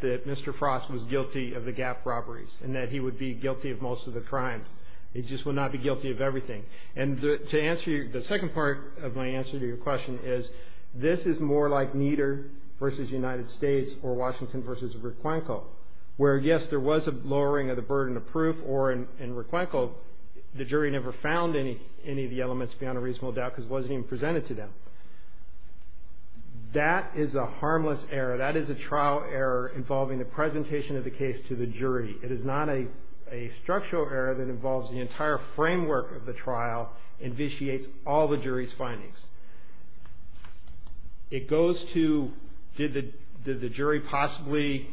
that Mr. Frost was guilty of the Gap robberies and that he would be guilty of most of the crimes. He just would not be guilty of everything. And to answer your second part of my answer to your question is, this is more like Nieder versus United States or Washington versus Requenco, where, yes, there was a lowering of the burden of proof, or in Requenco, the jury never found any of the elements beyond a reasonable doubt because it wasn't even presented to them. That is a harmless error. That is a trial error involving the presentation of the case to the jury. It is not a structural error that involves the entire framework of the trial and vitiates all the jury's findings. It goes to, did the jury possibly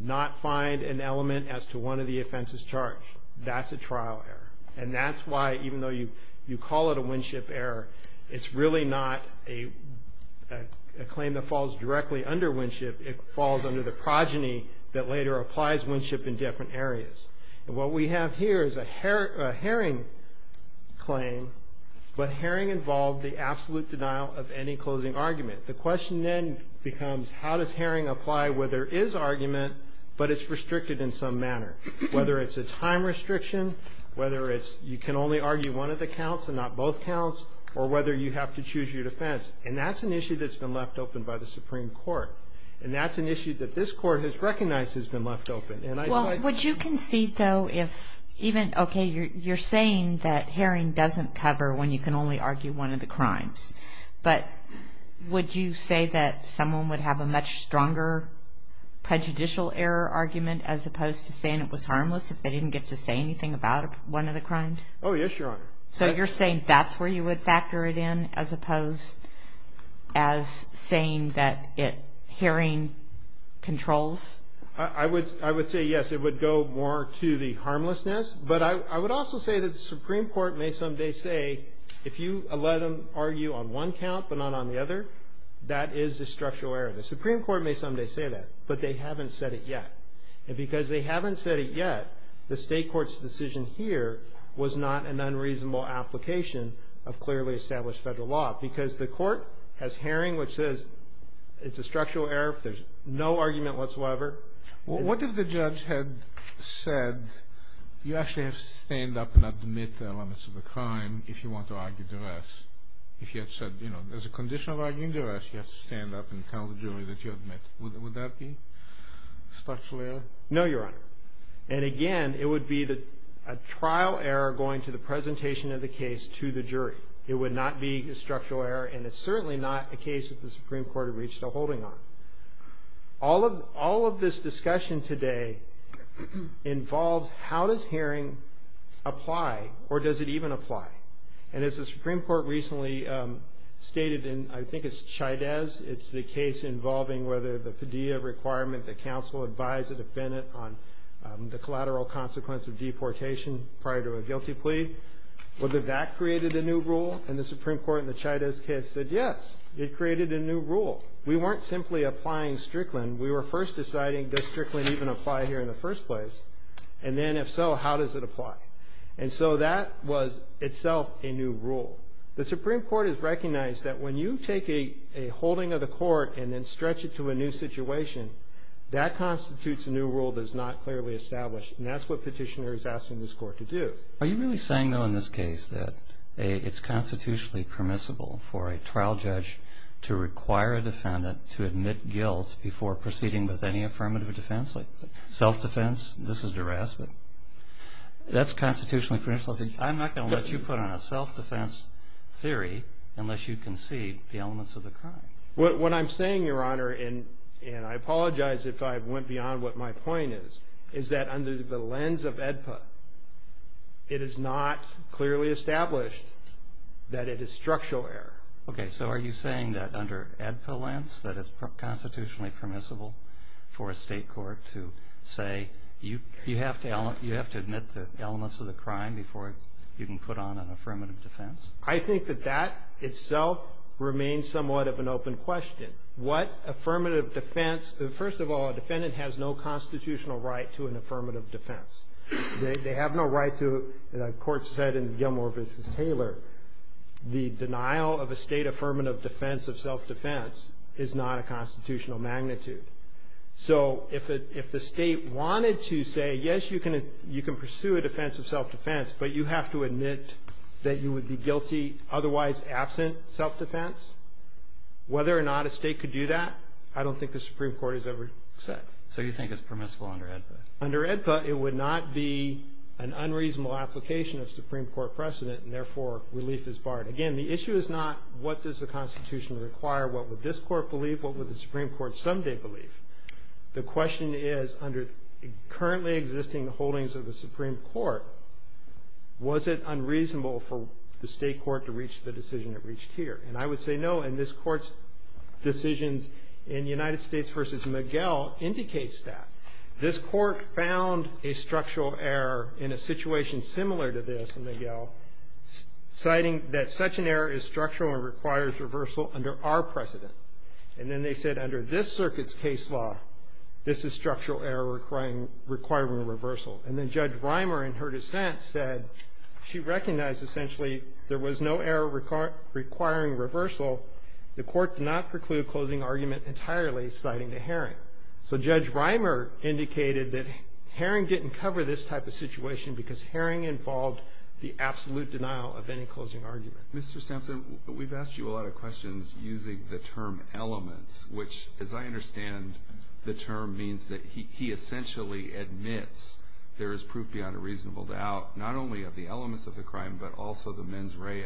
not find an element as to one of the offenses charged? That's a trial error. And that's why, even though you call it a Winship error, it's really not a claim that falls directly under Winship. It falls under the progeny that later applies Winship in different areas. And what we have here is a Herring claim, but Herring involved the absolute denial of any closing argument. The question then becomes, how does Herring apply where there is argument, but it's restricted in some manner? Whether it's a time restriction, whether it's you can only argue one of the counts and not both counts, or whether you have to choose your defense. And that's an issue that's been left open by the Supreme Court. And that's an issue that this Court has recognized has been left open. Well, would you concede, though, if even, okay, you're saying that Herring doesn't cover when you can only argue one of the crimes. But would you say that someone would have a much stronger prejudicial error argument as opposed to saying it was harmless if they didn't get to say anything about one of the crimes? Oh, yes, Your Honor. So you're saying that's where you would factor it in as opposed as saying that Herring controls? I would say, yes, it would go more to the harmlessness. But I would also say that the Supreme Court may someday say, if you let them argue on one count but not on the other, that is a structural error. The Supreme Court may someday say that, but they haven't said it yet. And because they haven't said it yet, the State Court's decision here was not an unreasonable application of clearly established federal law. Because the Court has Herring, which says it's a structural error if there's no argument whatsoever. What if the judge had said, you actually have to stand up and admit the elements of the crime if you want to argue the rest? If you had said, you know, there's a condition of arguing the rest, you have to stand up and tell the jury that you admit. Would that be a structural error? No, Your Honor. And again, it would be a trial error going to the presentation of the case to the jury. It would not be a structural error, and it's certainly not a case that the Supreme Court had reached a holding on. All of this discussion today involves how does Herring apply, or does it even apply? And as the Supreme Court recently stated in, I think it's Chydez, it's the case involving whether the Padilla requirement that counsel advise a defendant on the collateral consequence of deportation prior to a guilty plea, whether that created a new rule. And the Supreme Court in the Chydez case said, yes, it created a new rule. We weren't simply applying Strickland. We were first deciding, does Strickland even apply here in the first place? And then, if so, how does it apply? And so that was itself a new rule. The Supreme Court has recognized that when you take a holding of the court and then stretch it to a new situation, that constitutes a new rule that is not clearly established. And that's what Petitioner is asking this Court to do. Are you really saying, though, in this case that it's constitutionally permissible for a trial judge to require a defendant to admit guilt before proceeding with any affirmative defense? Like, self-defense, this is harassment. That's constitutionally permissible. I'm not going to let you put on a self-defense theory unless you concede the elements of the crime. What I'm saying, Your Honor, and I apologize if I went beyond what my point is, is that under the lens of AEDPA, it is not clearly established that it is structural error. Okay, so are you saying that under AEDPA lens, that it's constitutionally permissible for a state court to say, you have to admit the elements of the crime before you can put on an affirmative defense? I think that that itself remains somewhat of an open question. What affirmative defense? First of all, a defendant has no constitutional right to an affirmative defense. They have no right to, the court said in Gilmore v. Taylor, the denial of a constitutional magnitude. So if the state wanted to say, yes, you can pursue a defense of self-defense, but you have to admit that you would be guilty otherwise absent self-defense, whether or not a state could do that, I don't think the Supreme Court has ever said. So you think it's permissible under AEDPA? Under AEDPA, it would not be an unreasonable application of Supreme Court precedent, and therefore, relief is barred. Again, the issue is not what does the Constitution require, what would this court believe, what would the Supreme Court someday believe? The question is, under currently existing holdings of the Supreme Court, was it unreasonable for the state court to reach the decision it reached here? And I would say no, and this court's decisions in United States v. McGill indicates that. This court found a structural error in a situation similar to this in McGill, citing that such an error is structural and requires reversal under our precedent. And then they said under this circuit's case law, this is structural error requiring reversal. And then Judge Reimer, in her dissent, said she recognized essentially there was no error requiring reversal. The court did not preclude closing argument entirely, citing to Haring. So Judge Reimer indicated that Haring didn't cover this type of situation because Haring involved the absolute denial of any closing argument. Mr. Sampson, we've asked you a lot of questions using the term elements, which, as I understand, the term means that he essentially admits there is proof beyond a reasonable doubt not only of the elements of the crime but also the mens rea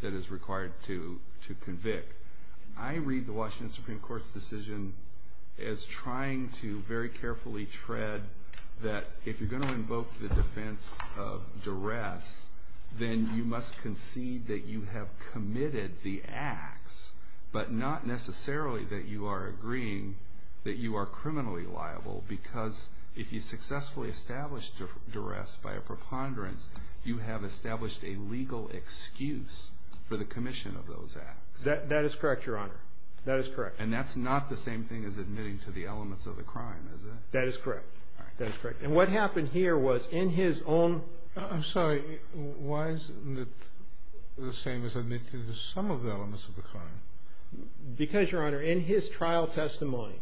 that is required to convict. I read the Washington Supreme Court's decision as trying to very carefully tread that if you're going to invoke the defense of duress, then you must concede that you have committed the acts but not necessarily that you are agreeing that you are criminally liable because if you successfully establish duress by a preponderance, you have established a legal excuse for the commission of those acts. That is correct, Your Honor. That is correct. And that's not the same thing as admitting to the elements of the crime, is it? That is correct. That is correct. And what happened here was in his own... I'm sorry. Why isn't it the same as admitting to some of the elements of the crime? Because, Your Honor, in his trial testimony...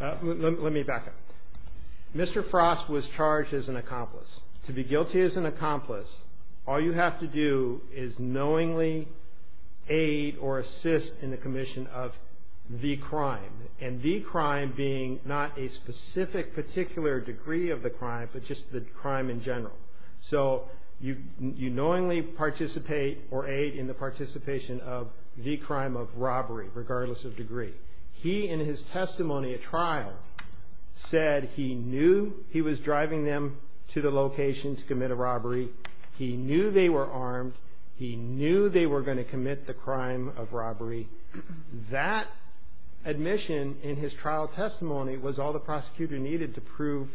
Let me back up. Mr. Frost was charged as an accomplice. To be guilty as an accomplice, all you have to do is knowingly aid or assist in the specific particular degree of the crime but just the crime in general. So you knowingly participate or aid in the participation of the crime of robbery, regardless of degree. He, in his testimony at trial, said he knew he was driving them to the location to commit a robbery. He knew they were armed. He knew they were going to commit the crime of robbery. That admission in his trial testimony was all the prosecutor needed to prove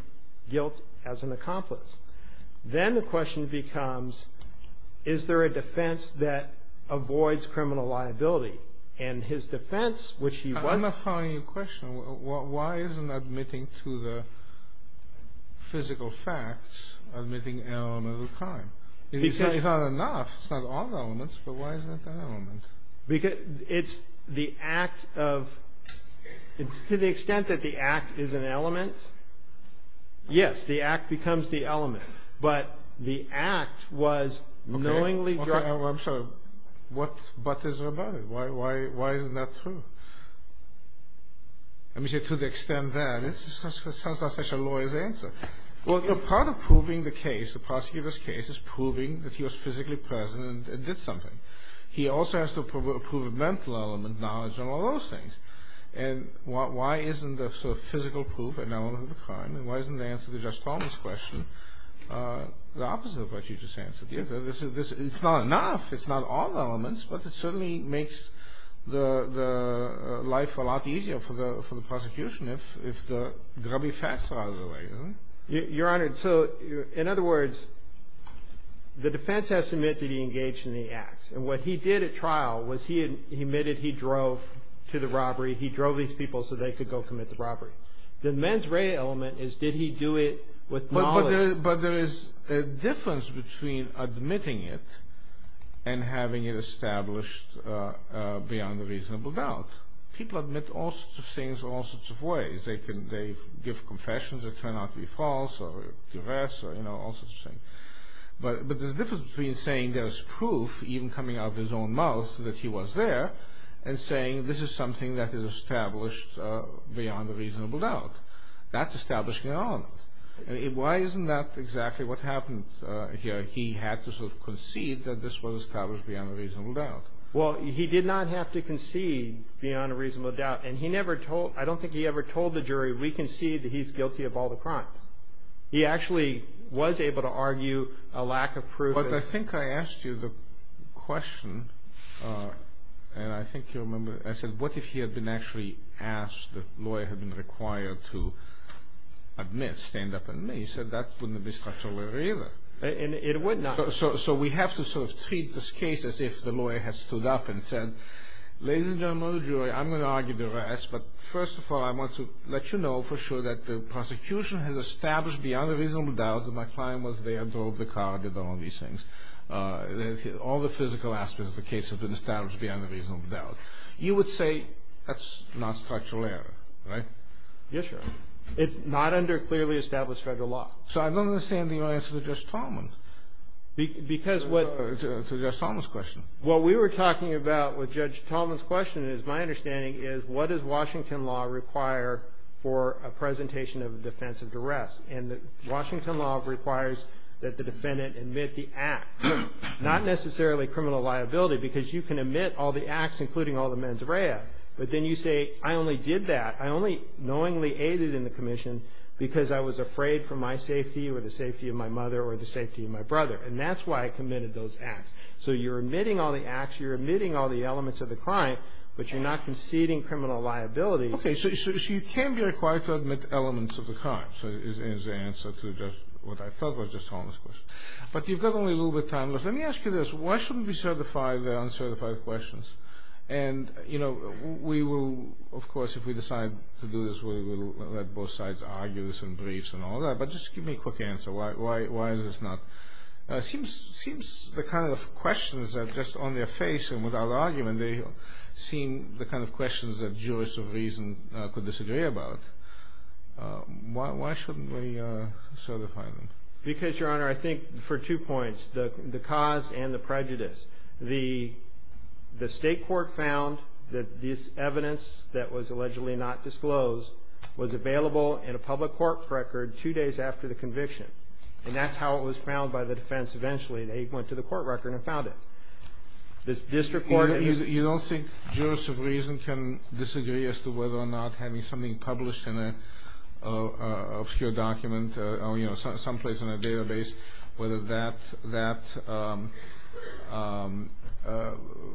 guilt as an accomplice. Then the question becomes, is there a defense that avoids criminal liability? And his defense, which he was... I'm not following your question. Why isn't admitting to the physical facts admitting an element of the crime? It's not enough. It's not all the elements, but why is it that element? Because it's the act of... To the extent that the act is an element, yes, the act becomes the element. But the act was knowingly driving... Okay. I'm sorry. What is it about it? Why isn't that true? I mean, to the extent that... It sounds like such a lawyer's answer. Well, part of proving the case, the prosecutor's case, is proving that he was physically present and did something. He also has to prove a mental element, knowledge, and all those things. And why isn't the sort of physical proof an element of the crime? And why isn't the answer to Judge Stallman's question the opposite of what you just answered? It's not enough. It's not all the elements, but it certainly makes the life a lot easier for the prosecution if the grubby facts are out of the way, isn't it? Your Honor, so in other words, the defense has to admit that he engaged in the acts. And what he did at trial was he admitted he drove to the robbery. He drove these people so they could go commit the robbery. The mens rea element is, did he do it with knowledge? But there is a difference between admitting it and having it established beyond a reasonable doubt. People admit all sorts of things in all sorts of ways. They give confessions that turn out to be false or divest or, you know, all sorts of things. But there's a difference between saying there's proof even coming out of his own mouth that he was there and saying this is something that is established beyond a reasonable doubt. That's establishing an element. Why isn't that exactly what happened here? He had to sort of concede that this was established beyond a reasonable doubt. Well, he did not have to concede beyond a reasonable doubt. And he never told, I don't think he ever told the jury, we concede that he's guilty of all the crimes. He actually was able to argue a lack of proof. But I think I asked you the question, and I think you remember, I said what if he had been actually asked, the lawyer had been required to admit, stand up and admit. He said that wouldn't be structural error either. And it would not. So we have to sort of treat this case as if the lawyer had stood up and said, ladies and gentlemen of the jury, I'm going to argue the rest. But first of all, I want to let you know for sure that the prosecution has established beyond a reasonable doubt that my client was there, drove the car, did all of these things. All the physical aspects of the case have been established beyond a reasonable doubt. You would say that's not structural error, right? Yes, Your Honor. It's not under clearly established federal law. So I don't understand your answer to Judge Tolman. Because what... To Judge Tolman's question. What we were talking about with Judge Tolman's question is, my understanding is, what does Washington law require for a presentation of a defense of duress? And Washington law requires that the defendant admit the act. Not necessarily criminal liability. Because you can admit all the acts, including all the mens rea. But then you say, I only did that. I only knowingly aided in the commission because I was afraid for my safety or the safety of my mother or the safety of my brother. And that's why I committed those acts. So you're admitting all the acts, you're admitting all the elements of the crime, but you're not conceding criminal liability. Okay, so you can be required to admit elements of the crime, is the answer to what I thought was Judge Tolman's question. But you've got only a little bit of time left. Let me ask you this. Why shouldn't we certify the uncertified questions? And, you know, we will, of course, if we decide to do this, we will let both sides argue this in briefs and all that. But just give me a quick answer. Why is this not... It seems the kind of questions are just on their face and without argument. They seem the kind of questions that jurists of reason could disagree about. Why shouldn't we certify them? Because, Your Honor, I think for two points, the cause and the prejudice. The state court found that this evidence that was allegedly not disclosed was available in a public court record two days after the conviction. And that's how it was found by the defense eventually. They went to the court record and found it. This district court... You don't think jurists of reason can disagree as to whether or not having something published in an obscure document or, you know, someplace in a database, whether that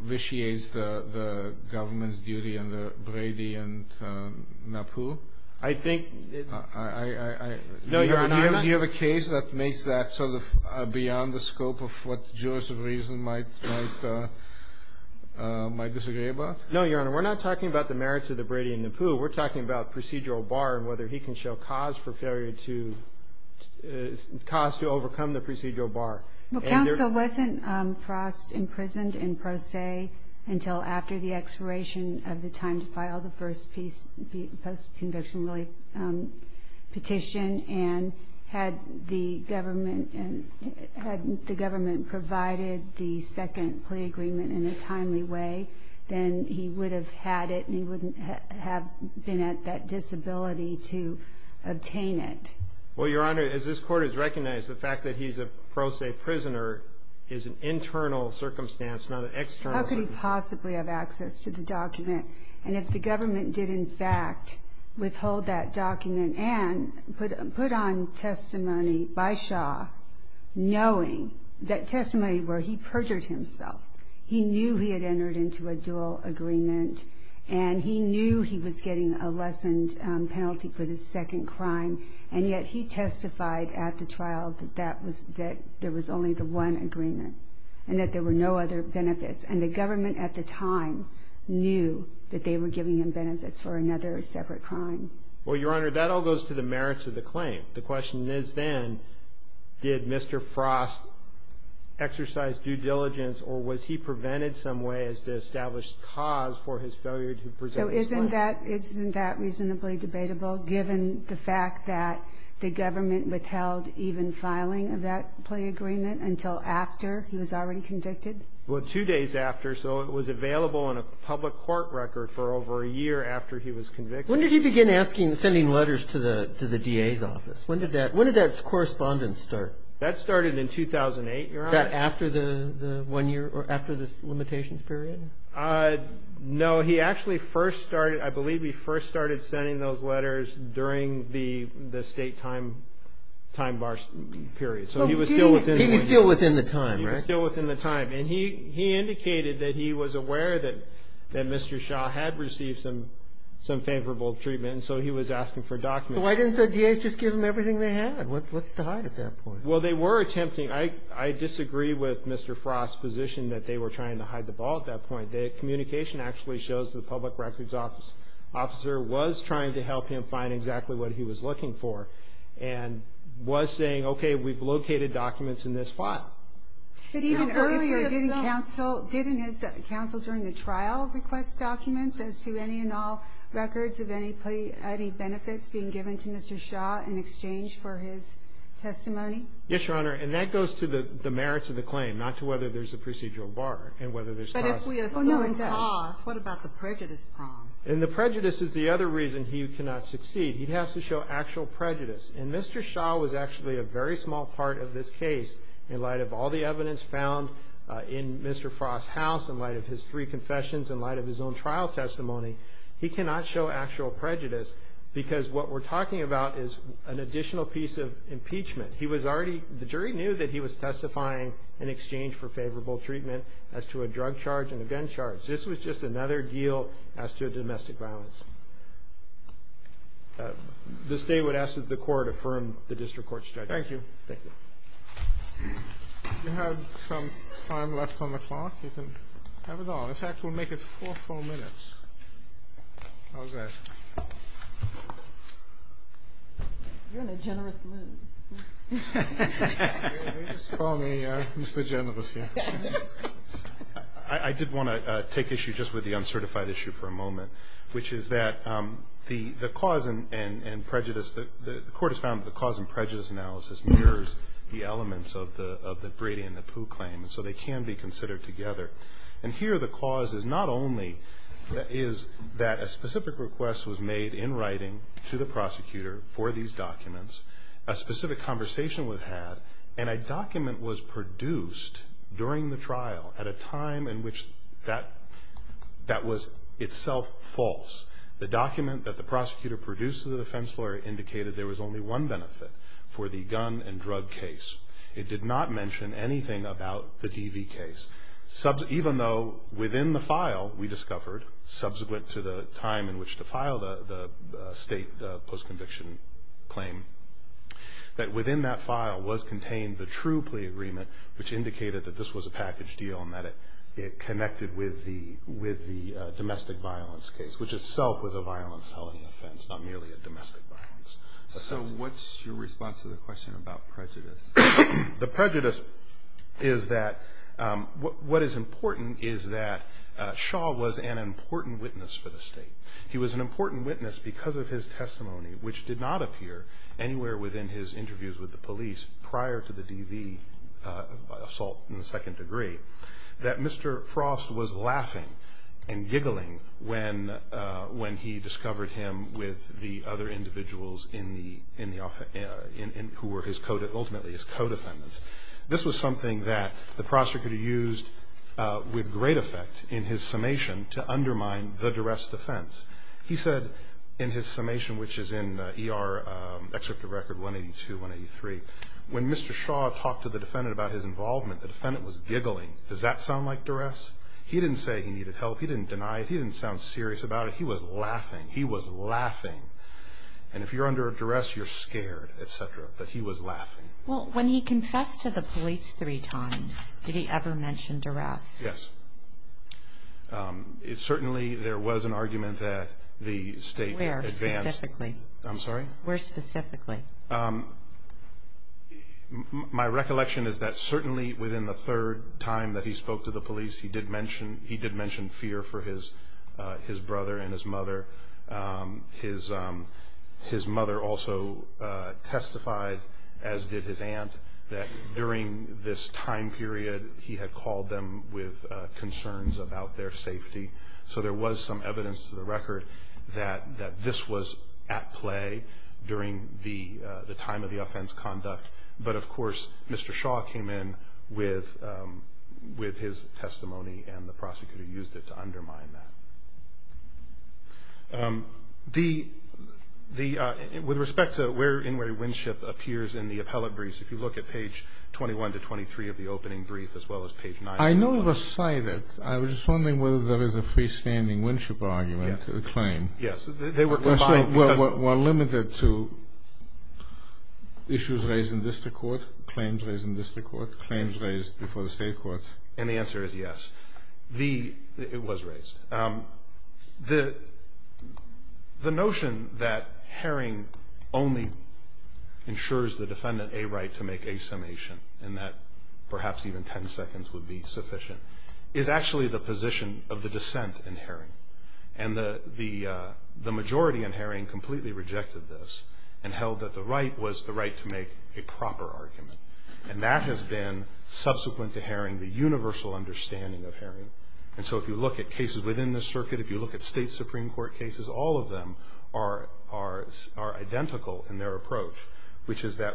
vitiates the government's duty under Brady and NAPU? I think... No, Your Honor, I'm not... Do you have a case that makes that sort of beyond the scope of what jurists of reason might disagree about? No, Your Honor. We're not talking about the merits of the Brady and NAPU. We're talking about procedural bar and whether he can show cause for failure to... cause to overcome the procedural bar. Well, counsel, wasn't Frost imprisoned in pro se until after the expiration of the post-conviction relief petition? And had the government provided the second plea agreement in a timely way, then he would have had it and he wouldn't have been at that disability to obtain it. Well, Your Honor, as this court has recognized, the fact that he's a pro se prisoner is an internal circumstance, not an external circumstance. He would not possibly have access to the document. And if the government did, in fact, withhold that document and put on testimony by Shaw knowing that testimony where he perjured himself, he knew he had entered into a dual agreement and he knew he was getting a lessened penalty for the second crime, and yet he testified at the trial that there was only the one agreement and that there were no other benefits. And the government at the time knew that they were giving him benefits for another separate crime. Well, Your Honor, that all goes to the merits of the claim. The question is then, did Mr. Frost exercise due diligence or was he prevented some way as to establish cause for his failure to present... So isn't that reasonably debatable, given the fact that the government withheld even filing of that plea agreement until after he was already convicted? Well, two days after. So it was available on a public court record for over a year after he was convicted. When did he begin sending letters to the DA's office? When did that correspondence start? That started in 2008, Your Honor. That after the one year or after the limitations period? No. He actually first started, I believe, he first started sending those letters during the state time bar period. So he was still within the one year. He was still within the time, right? He was still within the time, and he indicated that he was aware that Mr. Shaw had received some favorable treatment, and so he was asking for documents. So why didn't the DA's just give him everything they had? What's to hide at that point? Well, they were attempting. I disagree with Mr. Frost's position that they were trying to hide the ball at that point. The communication actually shows the public records officer was trying to help him find exactly what he was looking for and was saying, okay, we've located documents in this file. But even earlier, didn't counsel during the trial request documents as to any and all records of any benefits being given to Mr. Shaw in exchange for his testimony? Yes, Your Honor, and that goes to the merits of the claim, not to whether there's a procedural bar and whether there's costs. But if we assume costs, what about the prejudice prong? And the prejudice is the other reason he cannot succeed. He has to show actual prejudice, and Mr. Shaw was actually a very small part of this case in light of all the evidence found in Mr. Frost's house, in light of his three confessions, in light of his own trial testimony. He cannot show actual prejudice because what we're talking about is an additional piece of impeachment. The jury knew that he was testifying in exchange for favorable treatment as to a drug charge and a gun charge. This was just another deal as to domestic violence. This day would ask that the Court affirm the district court's judgment. Thank you. Thank you. We have some time left on the clock. You can have it all. In fact, we'll make it four full minutes. How's that? You're in a generous mood. They just call me Mr. Generous here. I did want to take issue just with the uncertified issue for a moment, which is that the cause and prejudice, the Court has found that the cause and prejudice analysis mirrors the elements of the Brady and the Pooh claim, and so they can be considered together. And here the cause is not only that a specific request was made in writing to the prosecutor for these documents, a specific conversation was had, and a document was produced during the trial at a time in which that was itself false. The document that the prosecutor produced to the defense lawyer indicated there was only one benefit for the gun and drug case. It did not mention anything about the DV case, even though within the file we discovered, subsequent to the time in which to file the state post-conviction claim, that within that file was contained the true plea agreement, which indicated that this was a package deal and that it connected with the domestic violence case, which itself was a violent felony offense, not merely a domestic violence offense. So what's your response to the question about prejudice? The prejudice is that what is important is that Shaw was an important witness for the state. He was an important witness because of his testimony, which did not appear anywhere within his interviews with the police prior to the DV assault in the second degree, that Mr. Frost was laughing and giggling when he discovered him with the other individuals who were ultimately his co-defendants. This was something that the prosecutor used with great effect in his summation to undermine the duress defense. He said in his summation, which is in ER Excerpt of Record 182, 183, when Mr. Shaw talked to the defendant about his involvement, the defendant was giggling. Does that sound like duress? He didn't say he needed help. He didn't deny it. He didn't sound serious about it. He was laughing. He was laughing. And if you're under a duress, you're scared, et cetera. But he was laughing. Well, when he confessed to the police three times, did he ever mention duress? Yes. Certainly there was an argument that the state advanced. Where specifically? I'm sorry? Where specifically? My recollection is that certainly within the third time that he spoke to the police, he did mention fear for his brother and his mother. His mother also testified, as did his aunt, that during this time period he had called them with concerns about their safety. So there was some evidence to the record that this was at play during the time of the offense conduct. But, of course, Mr. Shaw came in with his testimony and the prosecutor used it to undermine that. With respect to where Inouye Winship appears in the appellate briefs, if you look at page 21 to 23 of the opening brief, as well as page 9. I know it was cited. I was just wondering whether there is a freestanding Winship argument to the claim. Yes. They were combined. Well, limited to issues raised in district court, claims raised in district court, claims raised before the state courts. And the answer is yes. It was raised. The notion that Haring only ensures the defendant a right to make a summation and that perhaps even 10 seconds would be sufficient is actually the position of the dissent in Haring. And the majority in Haring completely rejected this and held that the right was the right to make a proper argument. And that has been, subsequent to Haring, the universal understanding of Haring. And so if you look at cases within this circuit, if you look at state Supreme Court cases, all of them are identical in their approach, which is that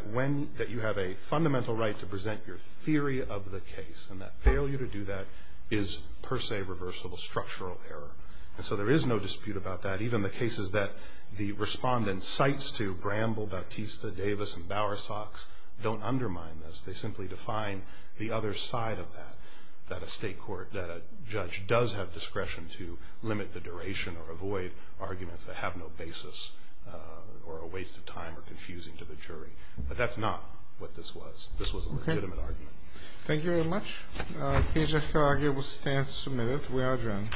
you have a fundamental right to present your theory of the case and that failure to do that is per se reversible structural error. And so there is no dispute about that. Even the cases that the respondent cites to Bramble, Bautista, Davis, and Bowersox don't undermine this. They simply define the other side of that, that a judge does have discretion to limit the duration or avoid arguments that have no basis or are a waste of time or confusing to the jury. But that's not what this was. This was a legitimate argument. Thank you very much. The case of Hill-Arger will stand submitted. We are adjourned.